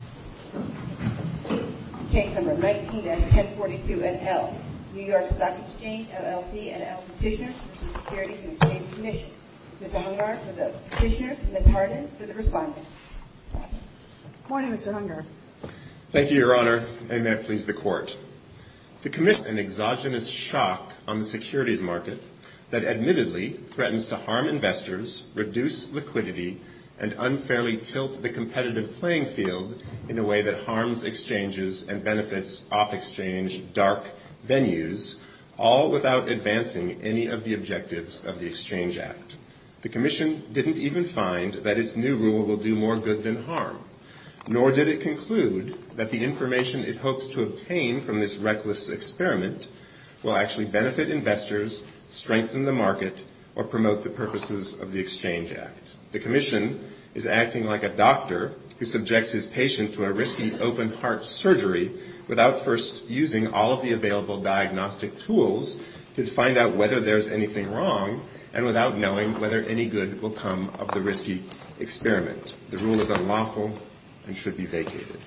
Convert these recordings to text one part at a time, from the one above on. and Exchange Commission. Mr. Hungar for the Petitioner, Ms. Hardin for the Respondent. Good morning, Mr. Hungar. Thank you, Your Honor, and may it please the Court. The Commission is in an exogenous shock on the securities market that admittedly threatens to harm investors, reduce liquidity, and unfairly tilt the competitive playing field in a way that harms exchanges and benefits off-exchange dark venues, all without advancing any of the objectives of the Exchange Act. The Commission didn't even find that its new rule will do more good than harm, nor did it conclude that the information it hopes to obtain from this reckless experiment will actually benefit investors, strengthen the market, or promote the purposes of the Exchange Act. The Commission is acting like a doctor who subjects his patient to a risky open-heart surgery without first using all of the available diagnostic tools to find out whether there's anything wrong and without knowing whether any good will come of the risky experiment. The rule is unlawful and should be vacated.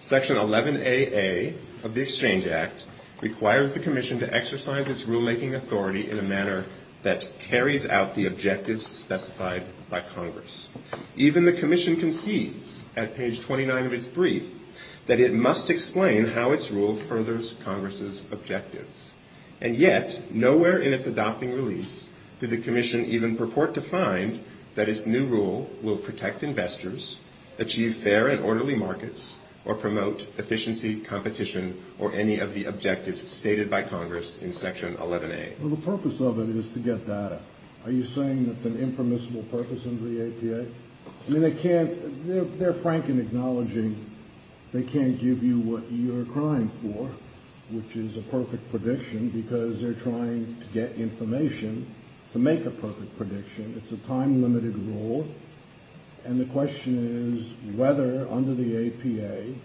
Section 11AA of the Exchange Act requires the Commission to exercise its rulemaking authority in a manner that carries out the objectives specified by Congress. Even the Commission concedes at page 29 of its brief that it must explain how its rule furthers Congress's objectives. And yet, nowhere in its adopting release did the Commission even purport to find that its new rule will protect investors, achieve fair and orderly markets, or promote efficiency, competition, or any of the objectives stated by Congress in Section 11A. Well, the purpose of it is to get data. Are you saying that's an impermissible purpose under the APA? I mean, they can't, they're frank in acknowledging they can't give you what you're crying for, which is a perfect prediction, because they're trying to get information to make a perfect prediction. It's a time-limited rule. And the question is whether under the APA,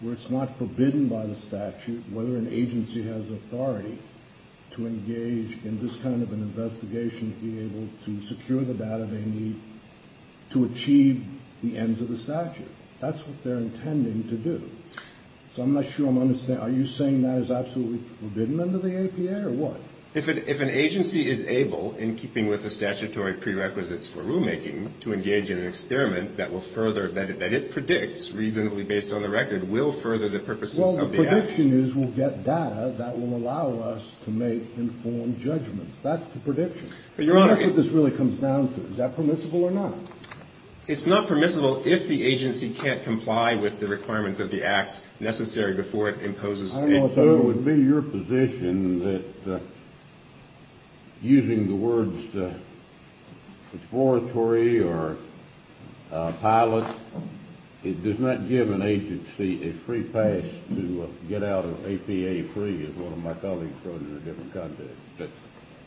where it's not forbidden by the statute, whether an agency has authority to engage in this kind of an investigation to be able to secure the data they need to achieve the ends of the statute. That's what they're intending to do. So I'm not sure I'm understanding. Are you saying that is absolutely forbidden under the APA, or what? If an agency is able, in keeping with the statutory prerequisites for rulemaking, to further, that it predicts, reasonably based on the record, will further the purposes of the Act? Well, the prediction is we'll get data that will allow us to make informed judgments. That's the prediction. But, Your Honor— And that's what this really comes down to. Is that permissible or not? It's not permissible if the agency can't comply with the requirements of the Act necessary before it imposes— I also would be in your position that using the words exploratory or pilot, it does not give an agency a free pass to get out of APA free, as one of my colleagues wrote in a different context.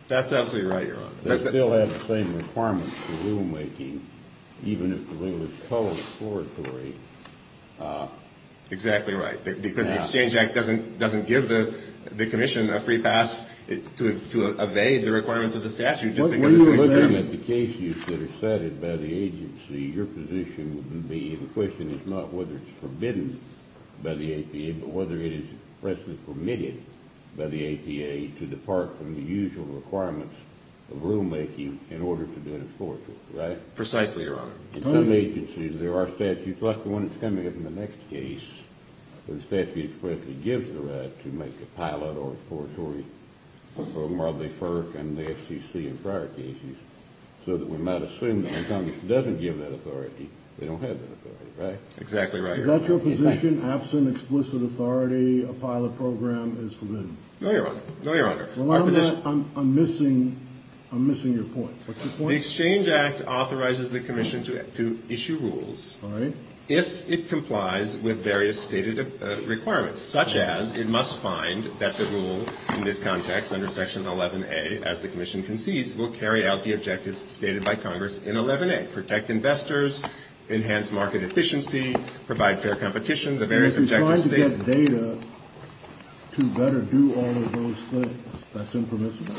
That's absolutely right, Your Honor. They still have the same requirements for rulemaking, even if the rule is totally exploratory. Exactly right. Because the Exchange Act doesn't give the Commission a free pass to evade the requirements of the statute, just because it's an experiment. When you're looking at the cases that are cited by the agency, your position would be—the question is not whether it's forbidden by the APA, but whether it is presently permitted by the APA to depart from the usual requirements of rulemaking in order to do an exploratory, right? Precisely, Your Honor. In some agencies, there are statutes, like the one that's coming up in the next case, where the statute explicitly gives the right to make a pilot or exploratory program while they FERC and the FCC in prior cases, so that we might assume that when Congress doesn't give that authority, they don't have that authority, right? Exactly right, Your Honor. Is that your position? Absent explicit authority, a pilot program is forbidden? No, Your Honor. No, Your Honor. What's your point? The Exchange Act authorizes the Commission to issue rules if it complies with various stated requirements, such as it must find that the rule in this context under Section 11A, as the Commission concedes, will carry out the objectives stated by Congress in 11A, protect investors, enhance market efficiency, provide fair competition, the various objectives stated— If it's trying to get data to better do all of those things, that's impermissible?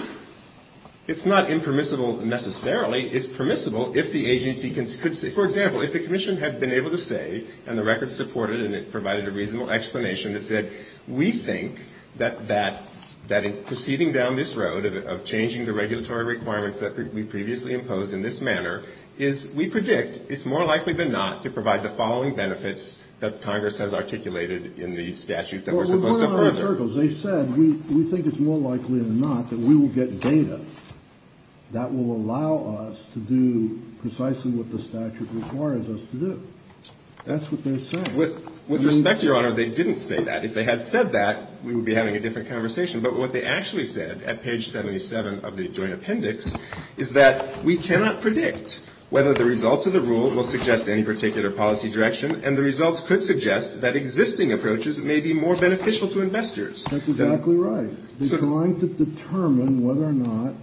It's not impermissible necessarily. It's permissible if the agency could say, for example, if the Commission had been able to say, and the record supported it and it provided a reasonable explanation that said, we think that proceeding down this road of changing the regulatory requirements that we previously imposed in this manner is, we predict, it's more likely than not to provide the following benefits that Congress has articulated in the statute that we're supposed to affirm. They said, we think it's more likely than not that we will get data that will allow us to do precisely what the statute requires us to do. That's what they're saying. With respect, Your Honor, they didn't say that. If they had said that, we would be having a different conversation. But what they actually said at page 77 of the joint appendix is that we cannot predict whether the results of the rule will suggest any particular policy direction, and the results could suggest that existing approaches may be more beneficial to investors. That's exactly right. They're trying to determine whether or not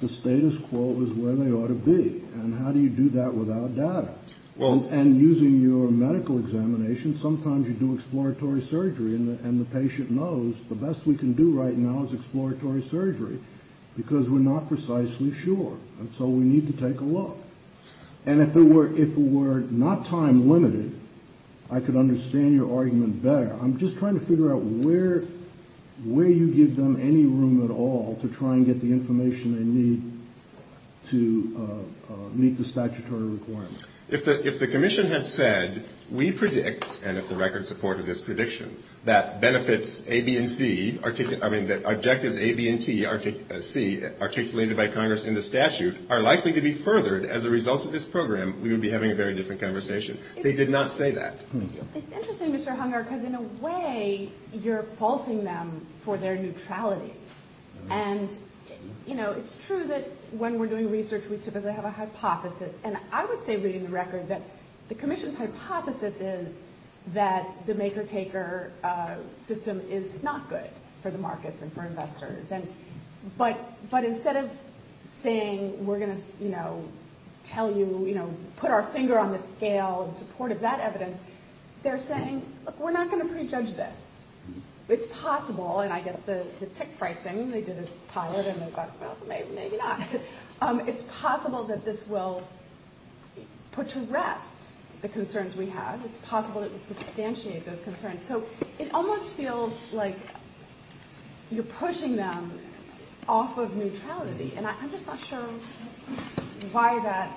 the status quo is where they ought to be. And how do you do that without data? And using your medical examination, sometimes you do exploratory surgery and the patient knows the best we can do right now is exploratory surgery because we're not precisely sure. And so we need to take a look. And if it were not time limited, I could understand your argument better. I'm just trying to figure out where you give them any room at all to try and get the information they need to meet the statutory requirements. If the Commission had said, we predict, and if the record supported this prediction, that benefits A, B, and C, I mean, that objectives A, B, and C articulated by Congress in the statute are likely to be furthered as a result of this program, we would be having a very different conversation. They did not say that. It's interesting, Mr. Hunger, because in a way, you're faulting them for their neutrality. And it's true that when we're doing research, we typically have a hypothesis. And I would say, reading the record, that the Commission's hypothesis is that the maker-taker system is not good for the markets and for investors. But instead of saying, we're going to tell you, put our finger on the scale in support of that evidence, they're saying, look, we're not going to prejudge this. It's possible, and I guess the tick pricing, they did a pilot and they thought, well, maybe not. It's possible that this will put to rest the concerns we have. It's possible that it will substantiate those concerns. So it almost feels like you're pushing them off of neutrality. And I'm just not sure why that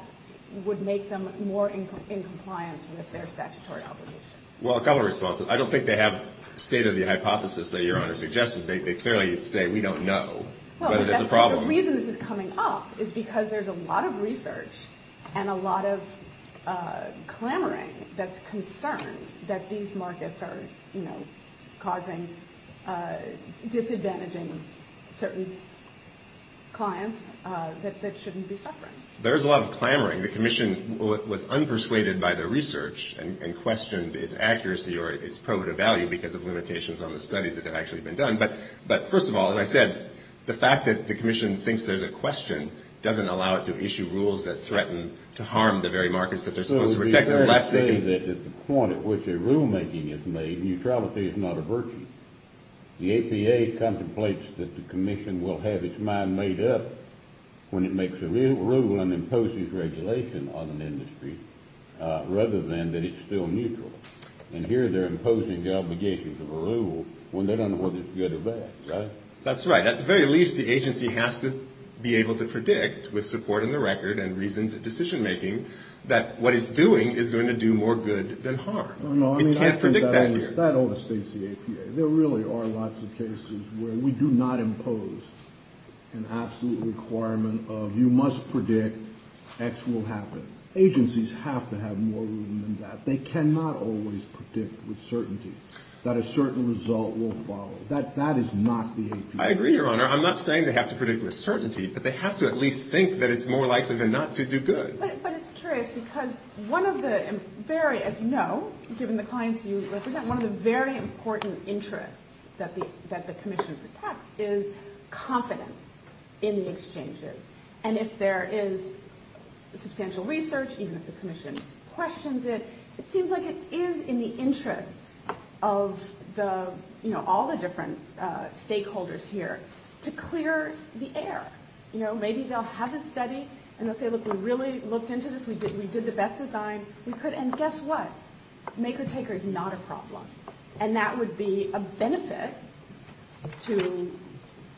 would make them more in compliance with their statutory obligation. Well, a couple of responses. I don't think they have stated the hypothesis that Your Honor suggested. They clearly say, we don't know whether there's a problem. The reason this is coming up is because there's a lot of research and a lot of clamoring that's concerned that these markets are, you know, causing, disadvantaging certain clients that shouldn't be suffering. There's a lot of clamoring. The Commission was unpersuaded by the research and questioned its accuracy or its probative value because of limitations on the studies that have actually been done. But first of all, as I said, the fact that the Commission thinks there's a question doesn't allow it to issue rules that threaten to harm the very markets that they're supposed to protect. They clearly say that at the point at which a rulemaking is made, neutrality is not a virtue. The APA contemplates that the Commission will have its mind made up when it makes a rule and imposes regulation on an industry, rather than that it's still neutral. And here they're imposing the obligations of a rule when they don't know whether it's good or bad, right? That's right. At the very least, the agency has to be able to predict, with support in the record and reasoned decision making, that what it's doing is going to do more good than harm. It can't predict that here. That overstates the APA. There really are lots of cases where we do not impose an absolute requirement of, you must predict, X will happen. Agencies have to have more room than that. They cannot always predict with certainty that a certain result will follow. That is not the APA. I agree, Your Honor. I'm not saying they have to predict with certainty, but they have to at least think that it's more likely than not to do good. But it's curious because, as you know, given the clients you represent, one of the very important interests that the Commission protects is confidence in the exchanges. And if there is substantial research, even if the Commission questions it, it seems like it is in the interests of all the different stakeholders here to clear the air. You know, maybe they'll have a study and they'll say, look, we really looked into this. We did the best design. And guess what? Maker-taker is not a problem. And that would be a benefit to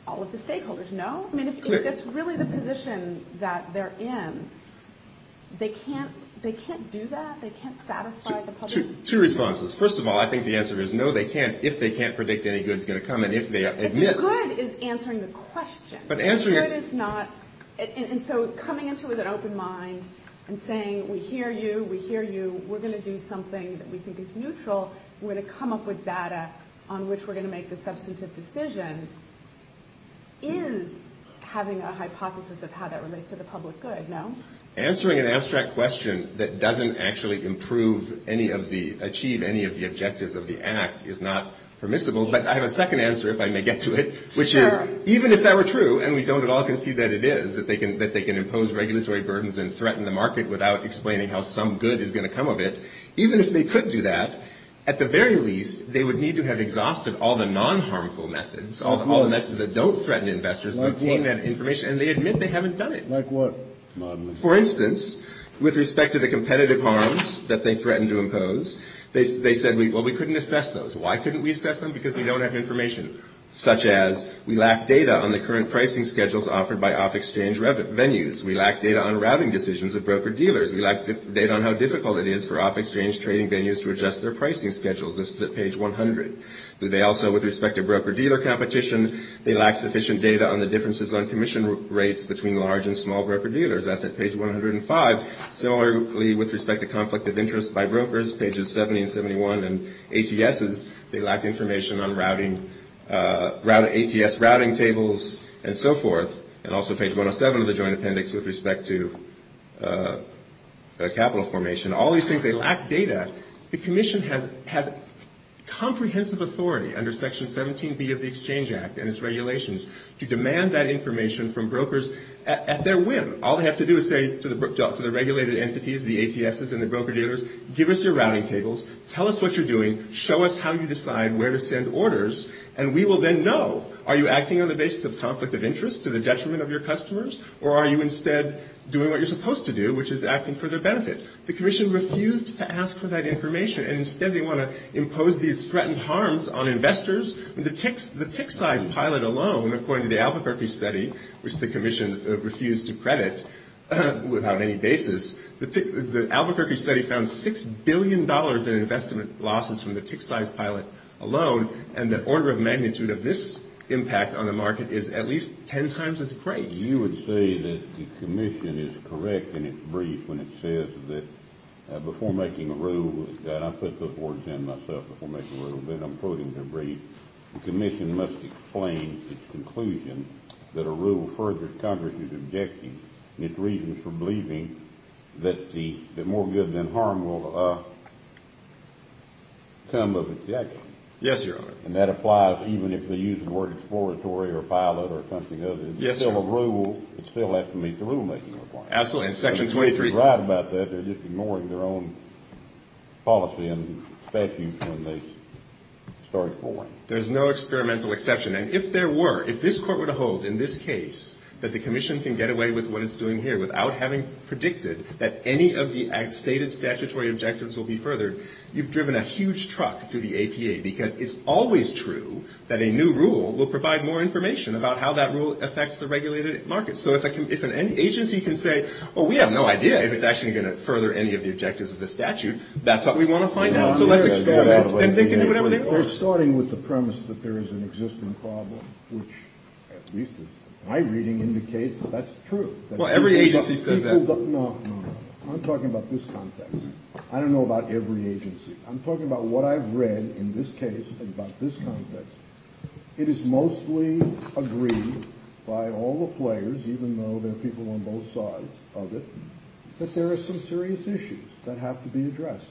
all of the stakeholders. No? I mean, if that's really the position that they're in, they can't do that? They can't satisfy the public? Two responses. First of all, I think the answer is no, they can't, if they can't predict any good is going to come and if they admit... If the good is answering the question. If the good is not... And so coming into it with an open mind and saying, we hear you, we hear you, we're going to do something that we think is neutral, we're going to come up with data on which we're going to make the substantive decision, is having a hypothesis of how that relates to the public good. No? Answering an abstract question that doesn't actually improve any of the... achieve any of the objectives of the Act is not permissible. But I have a second answer, if I may get to it, which is, even if that were true, and we don't at all concede that it is, that they can impose regulatory burdens and threaten the market without explaining how some good is going to come of it, even if they could do that, at the very least, they would need to have exhausted all the non-harmful methods, all the methods that don't threaten investors, and they admit they haven't done it. For instance, with respect to the competitive harms that they threaten to impose, they said, well, we couldn't assess those. Why couldn't we assess them? Because we don't have information. Such as, we lack data on the current pricing schedules offered by off-exchange venues. We lack data on routing decisions of broker-dealers. We lack data on how difficult it is for off-exchange trading venues to adjust their pricing schedules. This is at page 100. They also, with respect to broker-dealer competition, they lack sufficient data on the differences on commission rates between large and small broker-dealers. That's at page 105. Similarly, with respect to conflict of interest by brokers, pages 70 and 71, and ATSs, they lack information on routing, ATS routing tables, and so forth. And also page 107 of the Joint Appendix with respect to capital formation. All these things, they lack data. The Commission has comprehensive authority, under section 17B of the Exchange Act and its regulations, to demand that information from brokers at their whim. All they have to do is say to the regulated entities, the ATSs and the broker-dealers, give us your routing tables, tell us what you're doing, show us how you decide where to send orders, and we will then know, are you acting on the basis of conflict of interest to the detriment of your customers, or are you instead doing what you're supposed to do, which is acting for their benefit? The Commission refused to ask for that information, and instead they want to impose these threatened harms on investors. The tick size pilot alone, according to the Albuquerque study, which the Commission refused to credit without any basis, the Albuquerque study found $6 billion in investment losses from the tick size pilot alone, and the order of magnitude of this impact on the market is at least 10 times as great. You would say that the Commission is correct in its brief when it says that before making a rule, and I put those words in myself before making a rule, but I'm quoting their brief, the Commission must explain its conclusion that a rule further Congress is objecting and its reasons for believing that more good than harm will come of its action. And that applies even if they use the word exploratory or pilot or something else. It's still a rule, it still has to meet the rulemaking requirements. And if they're right about that, they're just ignoring their own policy and statutes when they start exploring. There's no experimental exception, and if there were, if this Court were to hold in this case that the Commission can get away with what it's doing here without having predicted that any of the stated statutory objectives will be furthered, you've driven a huge truck through the APA because it's always true that a new rule will provide more information about how that rule affects the regulated market. So if an agency can say, well we have no idea if it's actually going to further any of the objectives of the statute, that's what we want to find out. We're starting with the premise that there is an existing problem, which at least my reading indicates that's true. I'm talking about this context. I don't know about every agency. I'm talking about what I've read in this case and about this context. It is mostly agreed by all the players, even though there are people on both sides of it, that there are some serious issues that have to be addressed.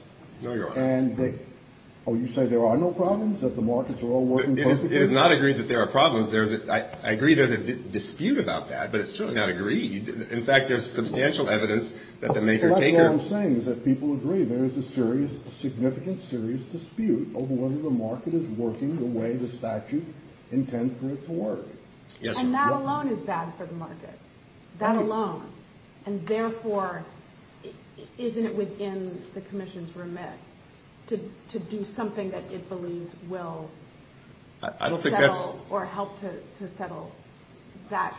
Oh, you say there are no problems? It is not agreed that there are problems. I agree there's a dispute about that, but it's certainly not agreed. In fact, there's substantial evidence that the maker-taker... That's what I'm saying is that people agree there is a serious, a significant serious dispute over whether the market is working the way the statute intends for it to work. And that alone is bad for the market. That alone. And therefore, isn't it within the Commission's remit to do something that it believes will help to settle that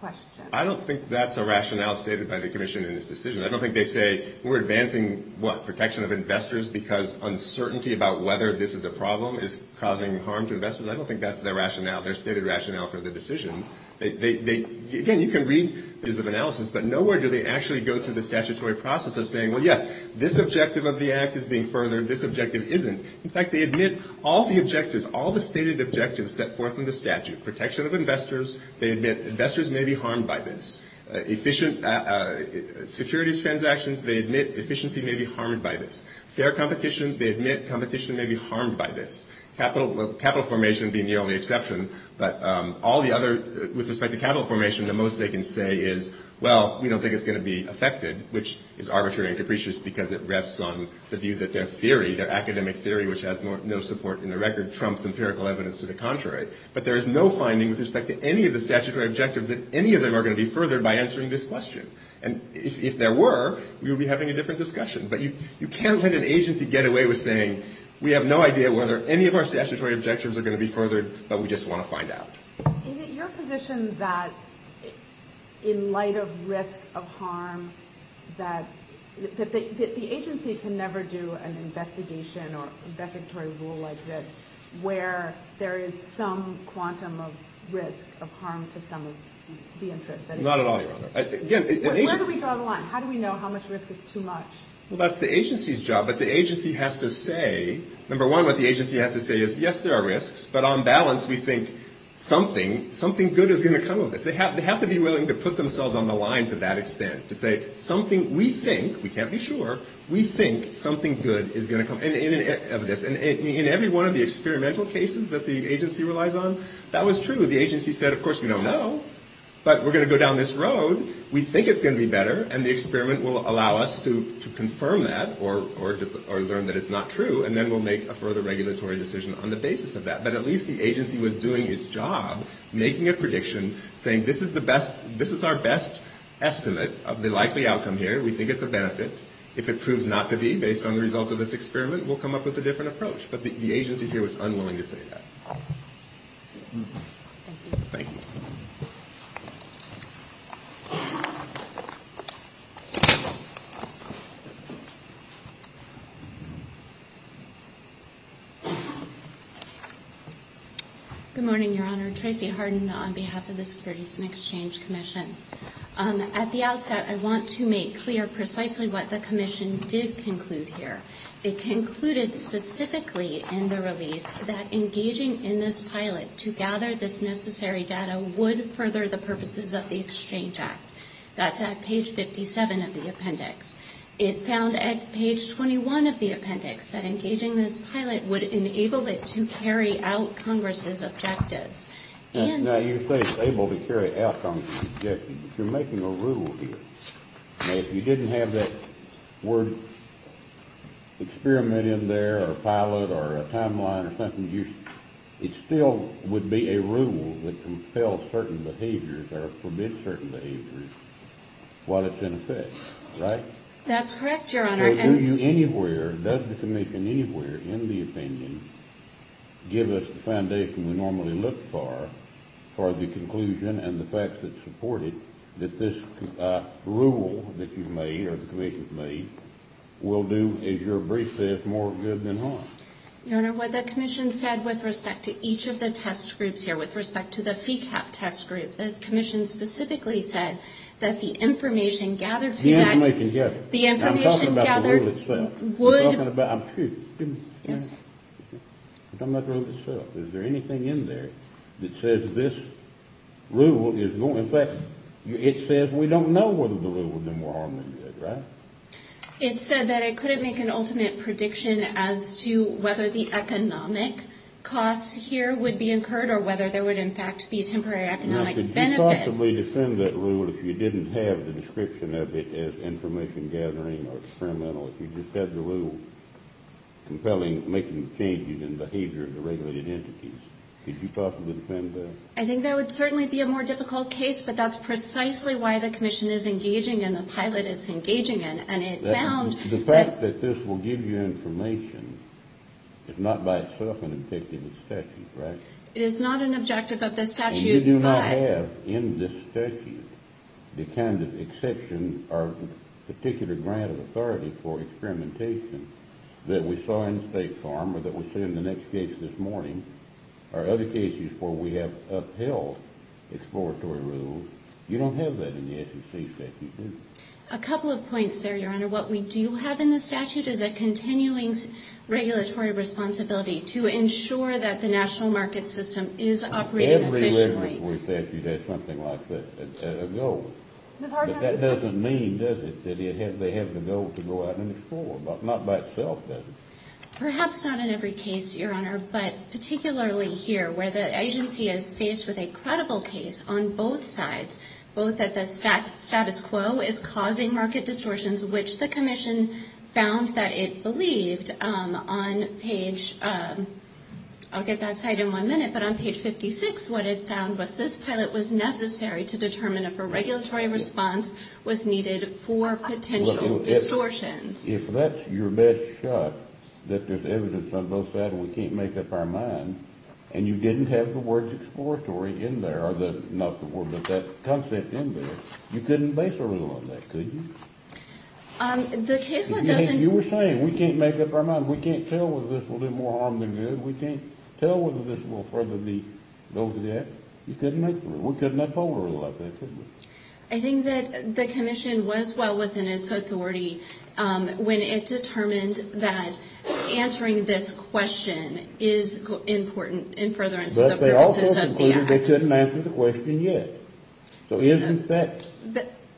question? I don't think that's a rationale stated by the Commission in this decision. I don't think they say, we're advancing protection of investors because uncertainty about whether this is a problem is causing harm to investors. I don't think that's their rationale, their stated reasons of analysis, but nowhere do they actually go through the statutory process of saying, well, yes, this objective of the Act is being furthered, this objective isn't. In fact, they admit all the objectives, all the stated objectives set forth in the statute. Protection of investors, they admit investors may be harmed by this. Efficient securities transactions, they admit efficiency may be harmed by this. Fair competition, they admit competition may be harmed by this. Capital formation being the only exception. With respect to capital formation, the most they can say is, well, we don't think it's going to be affected, which is arbitrary and capricious because it rests on the view that their theory, their academic theory, which has no support in the record, trumps empirical evidence to the contrary. But there is no finding with respect to any of the statutory objectives that any of them are going to be furthered by answering this question. And if there were, we would be having a different discussion. But you can't let an agency get away with saying, we have no idea whether any of our statutory objectives are going to be furthered, but we just want to find out. Is it your position that, in light of risk of harm, that the agency can never do an investigation or investigatory rule like this where there is some quantum of risk, of harm to some of the interests? Not at all, Your Honor. Where do we draw the line? How do we know how much risk is too much? Well, that's the agency's job, but the agency has to say, number one, what the agency has to say is, yes, there are risks, but on balance we think something, something good is going to come of this. They have to be willing to put themselves on the line to that extent to say, something we think, we can't be sure, we think something good is going to come of this. And in every one of the experimental cases that the agency relies on, that was true. The agency said, of course, we don't know, but we're going to go down this road. We think it's going to be better and the experiment will allow us to confirm that or learn that it's not true and then we'll make a further regulatory decision on the basis of that. But at least the agency was doing its job, making a prediction, saying, this is our best estimate of the likely outcome here. We think it's a benefit. If it proves not to be, based on the results of this experiment, we'll come up with a different approach. But the agency here was unwilling to say that. Thank you. Good morning, Your Honor. Tracy Harden on behalf of the Securities and Exchange Commission. At the outset, I want to make clear precisely what the Commission did conclude here. It concluded specifically in the release that engaging in this pilot to gather this necessary data would further the purposes of the Exchange Act. That's at page 57 of the appendix. It found at page 21 of the appendix that engaging this pilot would enable it to carry out Congress's objectives. Now, you say able to carry out Congress's objectives, but you're making a rule here. If you didn't have that word experiment in there or a pilot or a timeline or something, it still would be a rule that compels certain behaviors or forbids certain behaviors while it's in effect, right? That's correct, Your Honor. Does the Commission anywhere in the opinion give us the foundation we normally look for for the conclusion and the facts that support it that this rule that you've made or the Commission's made will do, as your brief says, more good than harm? Your Honor, what the Commission said with respect to each of the test groups here, with respect to the FECAP test group, the Commission specifically said that the information gathered would... I'm talking about the rule itself. I'm talking about the rule itself. Is there anything in there that says that this rule is going... In fact, it says we don't know whether the rule would do more harm than good, right? It said that it couldn't make an ultimate prediction as to whether the economic costs here would be incurred or whether there would, in fact, be temporary economic benefits. Now, could you possibly defend that rule if you didn't have the description of it as information gathering or experimental? If you just had the rule compelling making changes in behavior of the regulated entities, could you possibly defend that? I think that would certainly be a more difficult case, but that's precisely why the Commission is engaging in the pilot it's engaging in, and it found... The fact that this will give you information is not by itself an objective of the statute, right? It is not an objective of the statute, but... ...that we saw in State Farm or that we see in the next case this morning or other cases where we have upheld exploratory rules, you don't have that in the SEC statute, do you? A couple of points there, Your Honor. What we do have in the statute is a continuing regulatory responsibility to ensure that the national market system is operating efficiently. Every regulatory statute has something like that as a goal. But that doesn't mean, does it, that they have the goal to go out and explore? Not by itself, does it? Perhaps not in every case, Your Honor, but particularly here where the agency is faced with a credible case on both sides, both that the status quo is causing market distortions, which the Commission found that it believed on page... I'll get that cite in one minute, but on page 56, what it found was this pilot was necessary to determine if a regulatory response was needed for potential distortions. If that's your best shot, that there's evidence on both sides and we can't make up our minds, and you didn't have the words exploratory in there, not the word, but the concept in there, you couldn't base a rule on that, could you? You were saying, we can't make up our minds, we can't tell whether this will do more harm than good, we can't tell whether this will further the... We couldn't have told a rule like that, could we? I think that the Commission was well within its authority when it determined that answering this question is important in furtherance of the purposes of the Act. But they also concluded they couldn't answer the question yet. So isn't that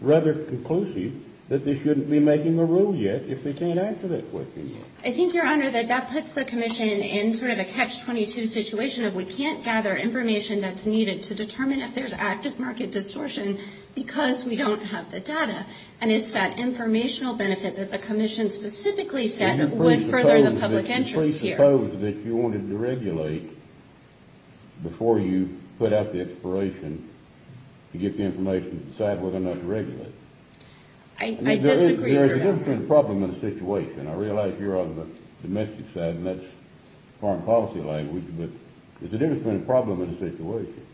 rather conclusive that they shouldn't be making a rule yet if they can't answer that question yet? I think, Your Honor, that that puts the Commission in sort of a Catch-22 situation of we can't gather information that's needed to determine if there's active market distortion because we don't have the data. And it's that informational benefit that the Commission specifically said would further the public interest here. I suppose that you wanted to regulate before you put out the expiration to give the information to decide whether or not to regulate. I disagree with that. There's a different problem in the situation. I realize you're on the domestic side and that's foreign policy language, but there's a different problem in the situation.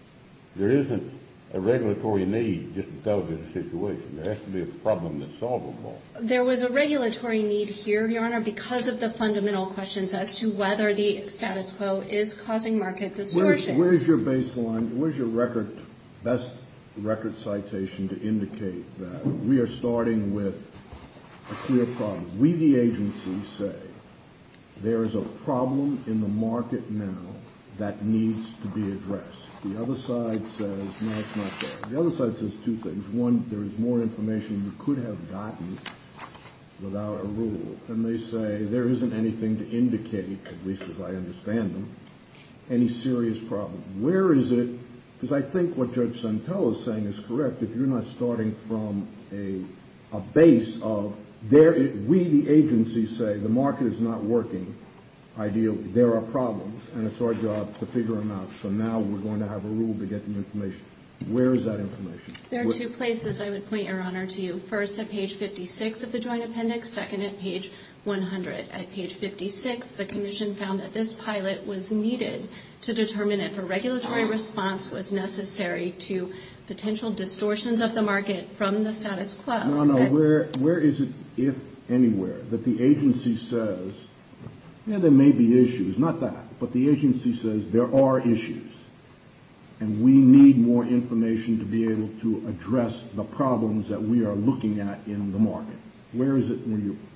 There isn't a regulatory need just because of the situation. There has to be a problem that's solvable. There was a regulatory need here, Your Honor, because of the fundamental questions as to whether the status quo is causing market distortions. Where's your baseline? Where's your best record citation to indicate that we are starting with a clear problem? We, the agency, say there is a problem in the market now that needs to be addressed. The other side says no, it's not there. The other side says two things. One, there is more information you could have gotten without a rule. And they say there isn't anything to indicate, at least as I understand them, any serious problem. Where is it? Because I think what Judge Santel is saying is correct. If you're not starting from a base of... We, the agency, say the market is not working ideally. There are problems, and it's our job to figure them out. So now we're going to have a rule to get the information. Where is that information? There are two places I would point, Your Honor, to you. First, at page 56 of the Joint Appendix. Second, at page 100. At page 56, the Commission found that this pilot was needed to determine if a regulatory response was necessary to potential distortions of the market from the status quo. Your Honor, where is it, if anywhere, that the agency says, yeah, there may be issues. Not that, but the agency says there are issues. And we need more information to be able to address the problems that we are looking at in the market. Where is it?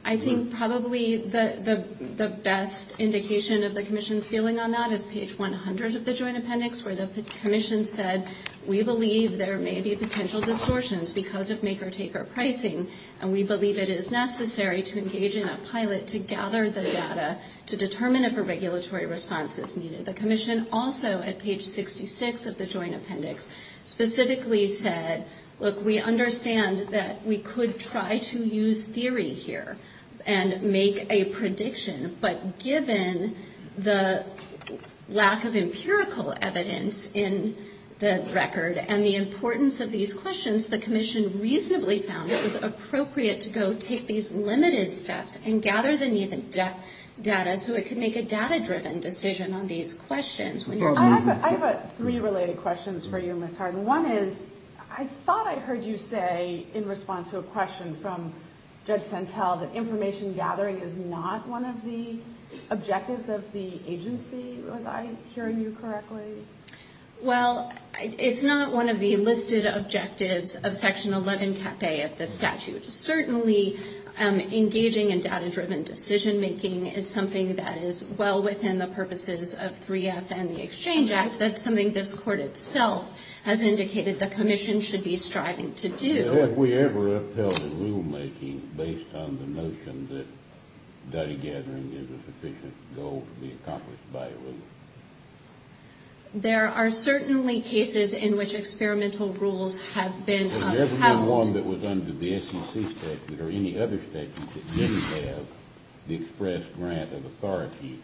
I think probably the best indication of the Commission's feeling on that is page 100 of the Joint Appendix, where the Commission said, we believe there may be potential distortions because of maker-taker pricing, and we believe it is necessary to engage in a pilot to gather the data to determine if a regulatory response is needed. The Commission also, at page 66 of the Joint Appendix, specifically said, look, we understand that we could try to use theory here and make a prediction, but given the lack of empirical evidence in the record and the importance of these questions, the Commission reasonably found it was appropriate to go take these limited steps and gather the needed data so it could make a data-driven decision on these questions. I have three related questions for you, Ms. Harden. One is, I thought I heard you say, in response to a question from Judge Santel, that information gathering is not one of the objectives of the agency. Was I hearing you correctly? Well, it's not one of the listed objectives of Section 11k of the statute. Certainly, engaging in data-driven decision-making is something that is well within the purposes of 3F and the Exchange Act. That's something this Court itself has indicated the Commission should be striving to do. Have we ever upheld rulemaking based on the notion that data gathering is a sufficient goal to be accomplished by a rulemaker? There are certainly cases in which experimental rules have been upheld. Has there ever been one that was under the SEC statute or any other statute that didn't have the express grant of authority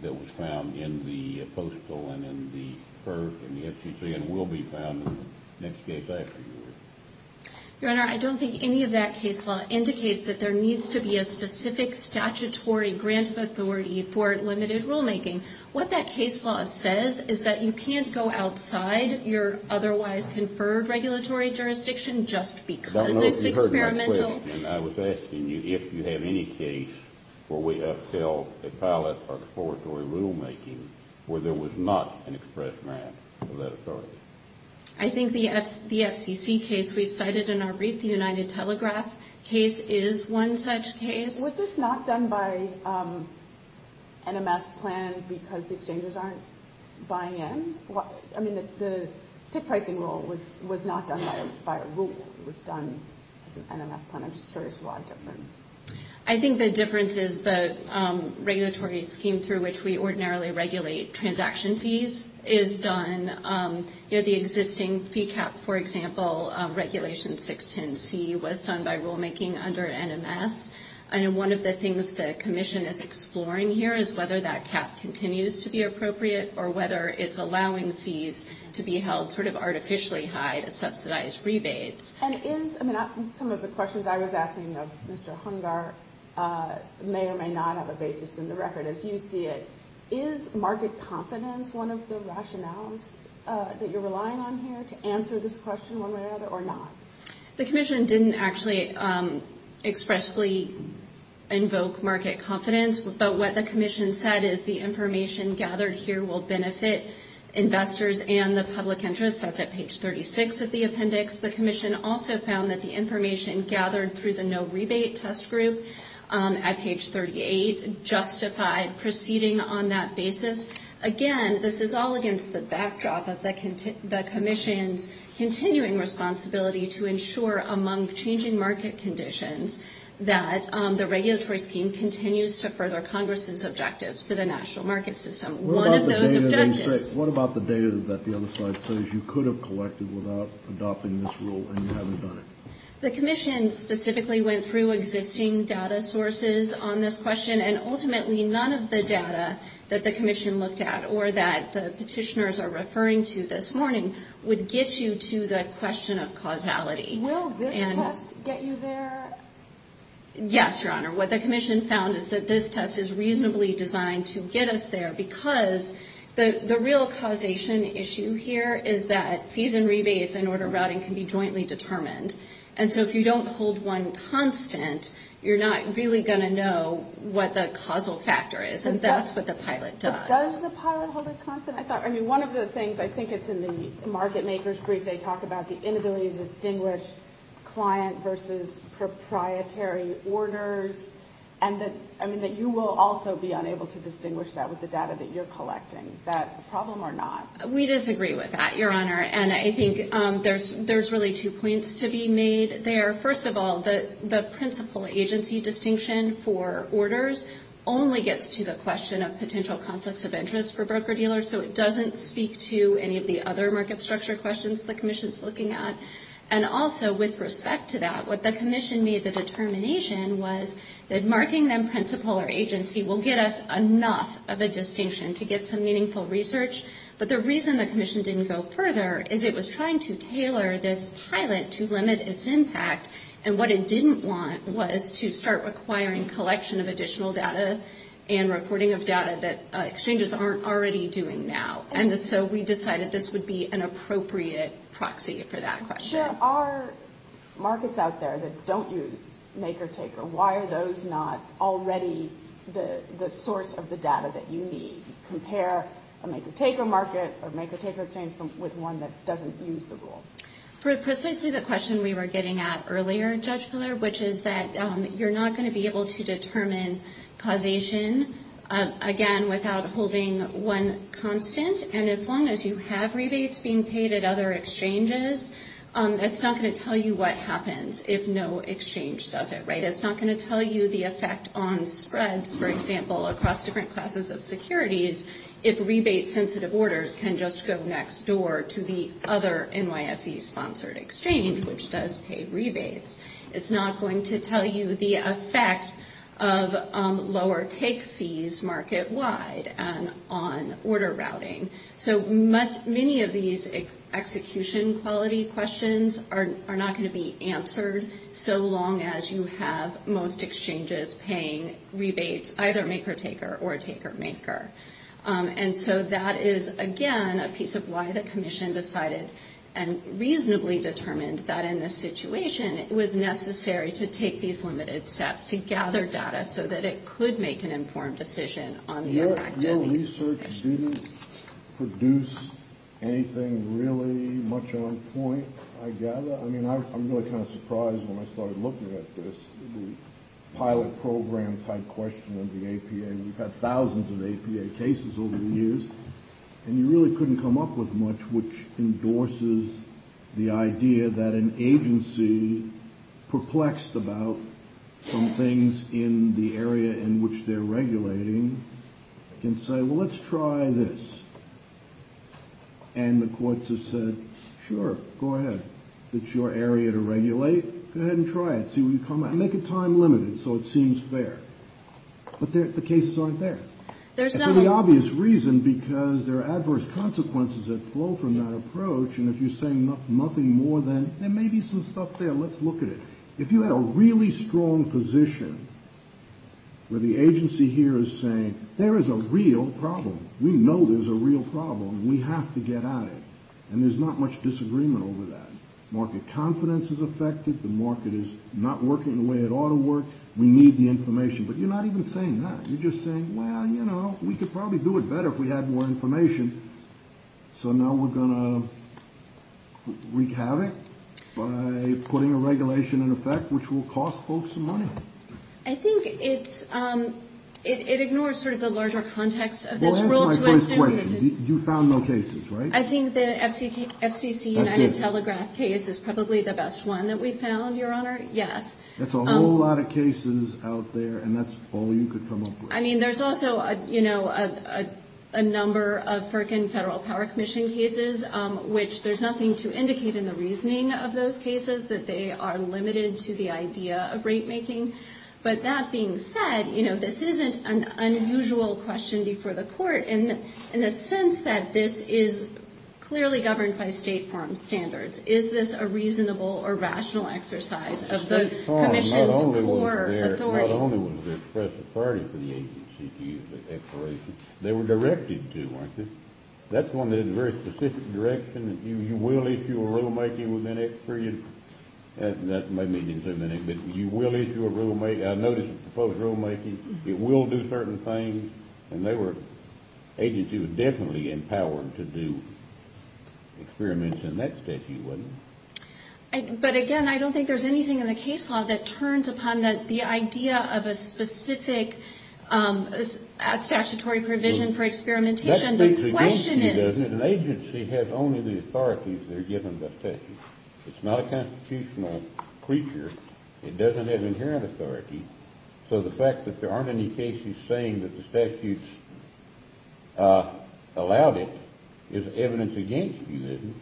that was found in the postal and in the PER and the FCC and will be found in the next case after yours? Your Honor, I don't think any of that case law indicates that there needs to be a specific statutory grant of authority for limited rulemaking. What that case law says is that you can't go outside your otherwise conferred regulatory jurisdiction just because it's experimental. I was asking you if you have any case where we upheld a pilot or exploratory rulemaking where there was not an express grant of that authority. I think the FCC case we've cited in our Read the United Telegraph case is one such case. Was this not done by an NMS plan because the exchangers aren't buying in? I mean, the tick pricing rule was not done by a rule. It was done as an NMS plan. I'm just curious what the difference is. I think the difference is the regulatory scheme through which we ordinarily regulate transaction fees is done. The existing fee cap, for example, Regulation 610C was done by rulemaking under NMS. One of the things the Commission is exploring here is whether that cap continues to be appropriate or whether it's allowing fees to be held artificially high to subsidize rebates. Some of the questions I was asking of Mr. Hungar may or may not have a basis in the record, as you see it. Is market confidence one of the rationales that you're relying on here to answer this question one way or another, or not? The Commission didn't actually expressly invoke market confidence, but what the Commission said is the information gathered here will benefit investors and the public interest. That's at page 36 of the appendix. The Commission also found that the information gathered through the no rebate test group at page 38 justified proceeding on that basis. Again, this is all against the backdrop of the Commission's continuing responsibility to ensure among changing market conditions that the regulatory scheme continues to further Congress's objectives for the national market system. What about the data that the other slide says you could have collected without adopting this rule and you haven't done it? The Commission specifically went through existing data sources on this question, and ultimately none of the data that the Commission looked at or that the petitioners are referring to this morning would get you to the question of causality. Will this test get you there? Yes, Your Honor. What the Commission found is that this test is reasonably designed to get us there because the real causation issue here is that fees and rebates and order routing can be jointly determined, and so if you don't hold one constant, you're not really going to know what the causal factor is, and that's what the pilot does. But does the pilot hold a constant? One of the things, I think it's in the market maker's brief, they talk about the inability to distinguish client versus proprietary orders, and that you will also be unable to distinguish that with the data that you're collecting. Is that a problem or not? We disagree with that, Your Honor, and I think there's really two points to be made there. First of all, the principal agency distinction for orders only gets to the question of potential conflicts of interest for broker-dealers, so it doesn't speak to any of the other market structure questions the Commission's looking at. And also, with respect to that, what the Commission made the determination was that marking them principal or agency will get us enough of a distinction to get some meaningful research, but the reason the Commission didn't go further is it was trying to tailor this pilot to limit its impact, and what it didn't want was to start requiring collection of additional data and recording of data that exchanges aren't already doing now, and so we decided this would be an appropriate proxy for that question. There are markets out there that don't use maker-taker. Why are those not already the source of the data that you need? Compare a maker-taker market or maker-taker exchange with one that doesn't use the rule. For precisely the question we were getting at earlier, Judge Piller, which is that you're not going to be able to determine causation, again, without holding one constant, and as long as you have rebates being paid at other exchanges, that's not going to tell you what happens if no exchange does it, right? It's not going to tell you the effect on spreads, for example, across different classes of securities if rebate-sensitive orders can just go next door to the other NYSE-sponsored exchange, which does pay rebates. It's not going to tell you the effect of lower take fees market-wide on order routing. So many of these execution-quality questions are not going to be answered so long as you have most exchanges paying rebates, either maker-taker or taker-maker. And so that is, again, a piece of why the Commission decided and reasonably determined that in this situation it was necessary to take these limited steps to gather data so that it could make an informed decision on the effect of these. Your research didn't produce anything really much on point, I gather. I mean, I'm really kind of surprised when I started looking at this, the pilot program-type question of the APA. We've had thousands of APA cases over the years, and you really couldn't come up with much which endorses the idea that an agency perplexed about some things in the area in which they're regulating can say, well, let's try this. And the courts have said, sure, go ahead. It's your area to regulate. Go ahead and try it. See what you come up with. Make it time-limited so it seems fair. But the cases aren't there. And for the obvious reason, because there are adverse consequences that flow from that approach, and if you're saying nothing more than, there may be some stuff there, let's look at it. If you had a really strong position where the agency here is saying, there is a real problem. We know there's a real problem. We have to get at it. And there's not much disagreement over that. Market confidence is affected. The market is not working the way it ought to work. We need the information. But you're not even saying that. You're just saying, well, you know, we could probably do it better if we had more information. So now we're going to wreak havoc by putting a regulation in effect which will cost folks some money. I think it's it ignores sort of the larger context of this rule. You found no cases, right? I think the FCC United Telegraph case is probably the best one that we found, Your Honor. Yes. That's a whole lot of cases out there, and that's all you could come up with. I mean, there's also, you know, a number of FERC and Federal Power Commission cases which there's nothing to indicate in the reasoning of those cases that they are limited to the idea of rate making. But that being said, you know, this isn't an unusual question before the court in the sense that this is clearly governed by State Farm standards. Is this a reasonable or rational exercise of the Commission's authority? Not only was there express authority for the agency to use the expiration. They were directed to, weren't they? That's one that is a very specific direction that you will issue a rulemaking within X period. That may mean in a minute, but you will issue a rulemaking. I noticed a proposed rulemaking. It will do certain things, and they were, the agency was definitely empowered to do experiments in that statute, wasn't it? But again, I don't think there's anything in the case law that turns upon the idea of a specific statutory provision for experimentation. The question is An agency has only the authorities they're given by statute. It's not a constitutional creature. It doesn't have inherent authority. So the fact that there aren't any cases saying that the statutes allowed it is evidence against you, isn't it?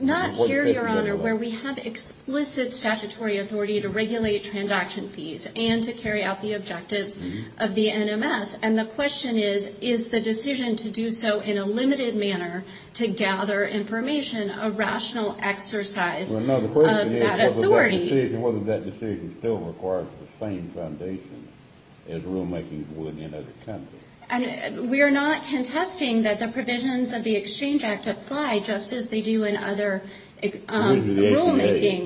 Not here, Your Honor, where we have explicit statutory authority to regulate transaction fees and to carry out the objectives of the NMS. And the question is, is the decision to do so in a limited manner to gather information a rational exercise of that authority? Whether that decision still requires the same foundation as rulemaking would in other countries. We are not contesting that the rulemaking.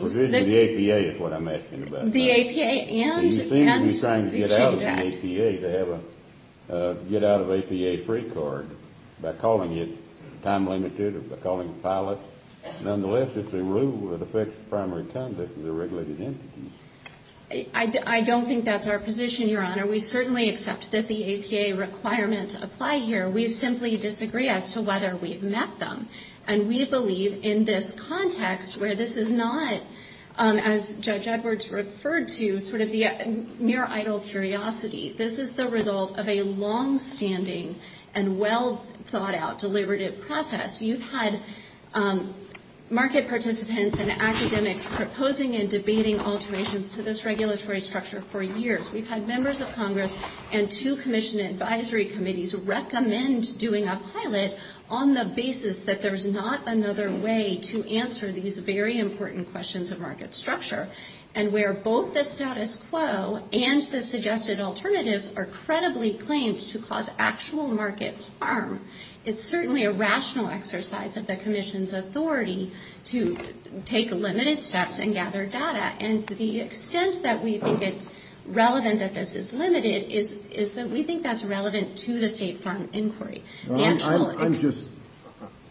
The APA is what I'm asking about. You seem to be trying to get out of the APA to have a get-out-of-APA-free card by calling it time-limited or by calling it pilot. Nonetheless, it's a rule that affects primary conduct with the regulated entities. I don't think that's our position, Your Honor. We certainly accept that the APA requirements apply here. We simply disagree as to whether we've met them. And we believe in this context where this is not, as Judge Edwards referred to, sort of the mere idle curiosity. This is the result of a long-standing and well-thought-out deliberative process. You've had market participants and academics proposing and debating alterations to this regulatory structure for years. We've had members of Congress and two commission advisory committees recommend doing a pilot on the basis that there's not another way to answer these very important questions of market structure and where both the status quo and the suggested alternatives are credibly claimed to cause actual market harm. It's certainly a rational exercise of the Commission's authority to take limited steps and gather data. And to the extent that we think it's relevant that this is limited is that we think that's relevant to the State Farm Inquiry.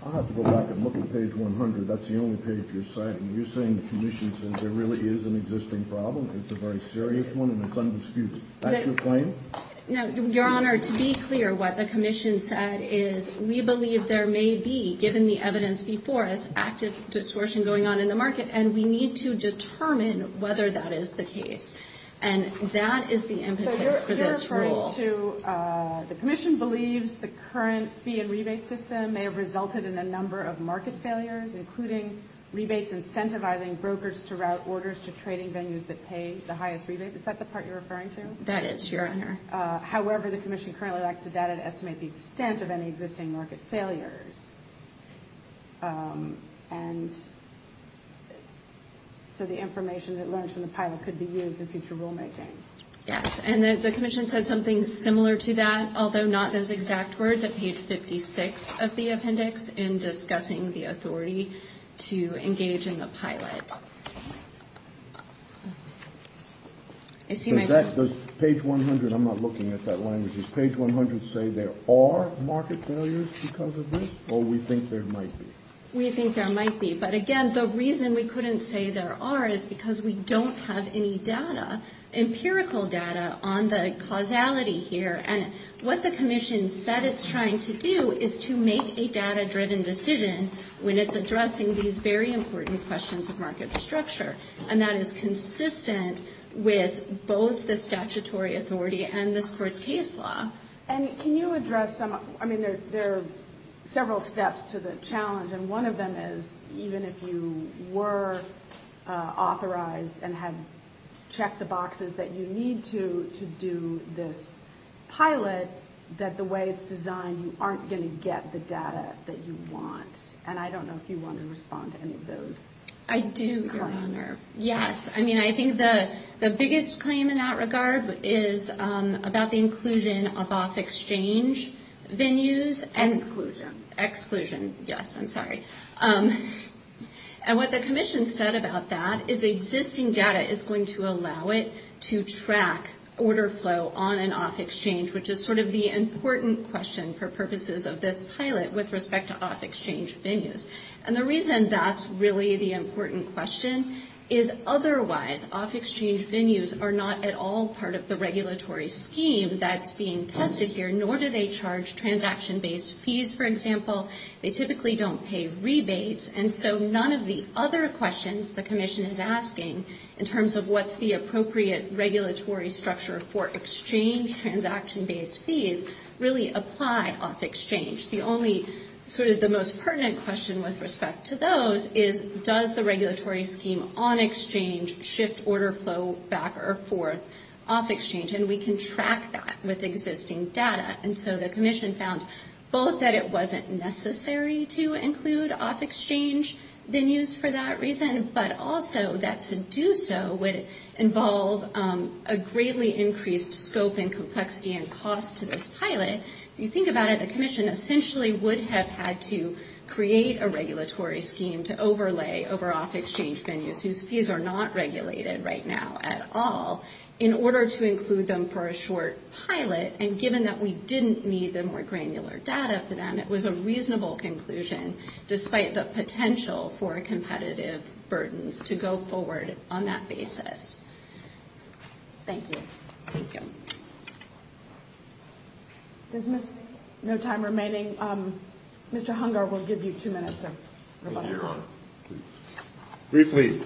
I'll have to go back and look at page 100. That's the only page you're citing. You're saying the Commission says there really is an existing problem? It's a very serious one and it's undisputed. Is that your claim? Your Honor, to be clear, what the Commission said is we believe there may be, given the evidence before us, active distortion going on in the market, and we need to determine whether that is the case. And that is the impetus for this rule. So you're referring to the Commission believes the current fee and rebate system may have resulted in a number of market failures, including rebates incentivizing brokers to route orders to trading venues that pay the highest rebates. Is that the part you're referring to? That is, Your Honor. However, the Commission currently lacks the data to estimate the extent of any existing market failures. And so the information that learned from the pilot could be used in future rulemaking. Yes, and the Commission said something similar to that, although not those exact words, at page 56 of the appendix in discussing the authority to engage in the pilot. Does page 100, I'm not looking at that language, does page 100 say there are market failures because of this, or we think there might be? We think there might be. But again, the reason we couldn't say there are is because we don't have any data, empirical data, on the causality here. And what the Commission said it's trying to do is to make a data-driven decision when it's addressing these very important questions of market structure. And that is consistent with both the statutory authority and this Court's case law. And can you address some, I mean, there are several steps to the challenge, and one of them is even if you were authorized and had checked the boxes that you need to do this pilot, that the way it's designed, you aren't going to get the data that you want. And I don't know if you want to respond to any of those claims. I do, Your Honor. Yes, I mean, I think the biggest claim in that regard is about the inclusion of off-exchange venues. Exclusion. Exclusion. Yes, I'm sorry. And what the Commission said about that is existing data is going to allow it to track order flow on and off-exchange, which is sort of the important question for purposes of this pilot with respect to off-exchange venues. And the reason that's really the important question is otherwise off-exchange venues are not at all part of the regulatory scheme that's being tested here, nor do they charge transaction-based fees, for example. They typically don't pay rebates. And so none of the other questions the Commission is asking in terms of what's the appropriate regulatory structure for exchange transaction-based fees really apply off-exchange. The only sort of the most pertinent question with respect to those is does the regulatory scheme on-exchange shift order flow back or forth off-exchange? And we can track that with existing data. And so the Commission found both that it wasn't necessary to include off-exchange venues for that reason, but also that to do so would involve a greatly increased scope and complexity and cost to this pilot. If you think about it, the Commission essentially would have had to create a regulatory scheme to overlay over off-exchange venues whose fees are not regulated right now at all in order to include them for a short pilot. And given that we didn't need the more granular data for them, it was a reasonable conclusion despite the potential for competitive burdens to go forward on that basis. Thank you. Thank you. There's no time remaining. Mr. Hunger will give you two minutes of rebuttal time. Briefly,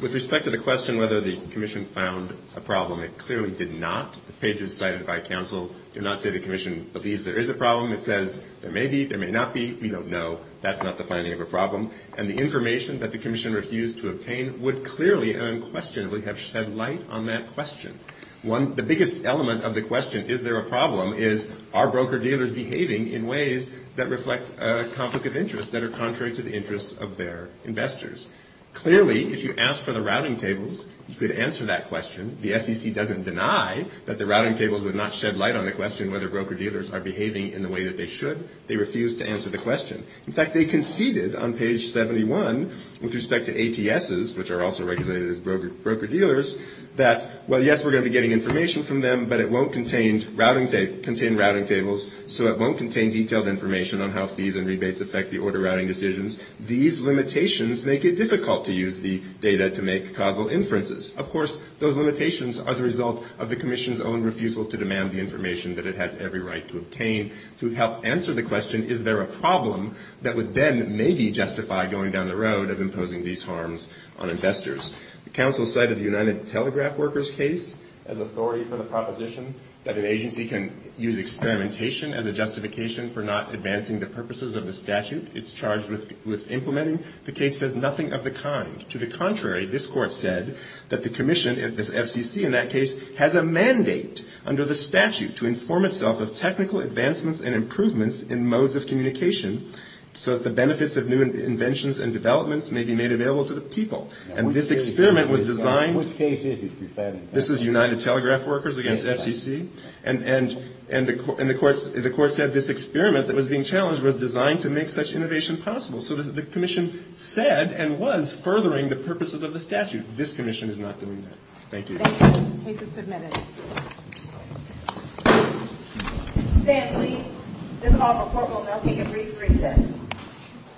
with respect to the question whether the Commission found a problem, it clearly did not. The pages cited by counsel do not say the Commission believes there is a problem. It says there may be, there may not be. We don't know. That's not the finding of a problem. And the information that the Commission refused to obtain would clearly and unquestionably have shed light on that question. The biggest element of the question, is there a problem, is there a problem, are broker-dealers behaving in ways that reflect a conflict of interest that are contrary to the interests of their investors? Clearly, if you ask for the routing tables, you could answer that question. The SEC doesn't deny that the routing tables would not shed light on the question whether broker-dealers are behaving in the way that they should. They refused to answer the question. In fact, they conceded on page 71 with respect to ATSs, which are also regulated as broker-dealers, that, well, yes, we're going to be getting information from them, but it won't contain routing tables, so it won't contain detailed information on how fees and rebates affect the order routing decisions. These limitations make it difficult to use the data to make causal inferences. Of course, those limitations are the result of the Commission's own refusal to demand the information that it has every right to obtain to help answer the question, is there a problem that would then maybe justify going down the road of imposing these harms on investors? The Council cited the United Telegraph Workers case as authority for the proposition that an agency can use experimentation as a justification for not advancing the purposes of the statute it's charged with implementing. The case says nothing of the kind. To the contrary, this Court said that the Commission, the FCC in that case, has a mandate under the statute to inform itself of technical advancements and improvements in modes of communication so that the benefits of new inventions and developments may be made available to the people. And this experiment was designed, this is United Telegraph Workers against FCC and the Court said this experiment that was being challenged was designed to make such innovation possible. So the Commission said and was furthering the purposes of the statute. This Commission is not doing that. Thank you. Thank you. Case is submitted. Stand please. This is all for portable milking and brief recess.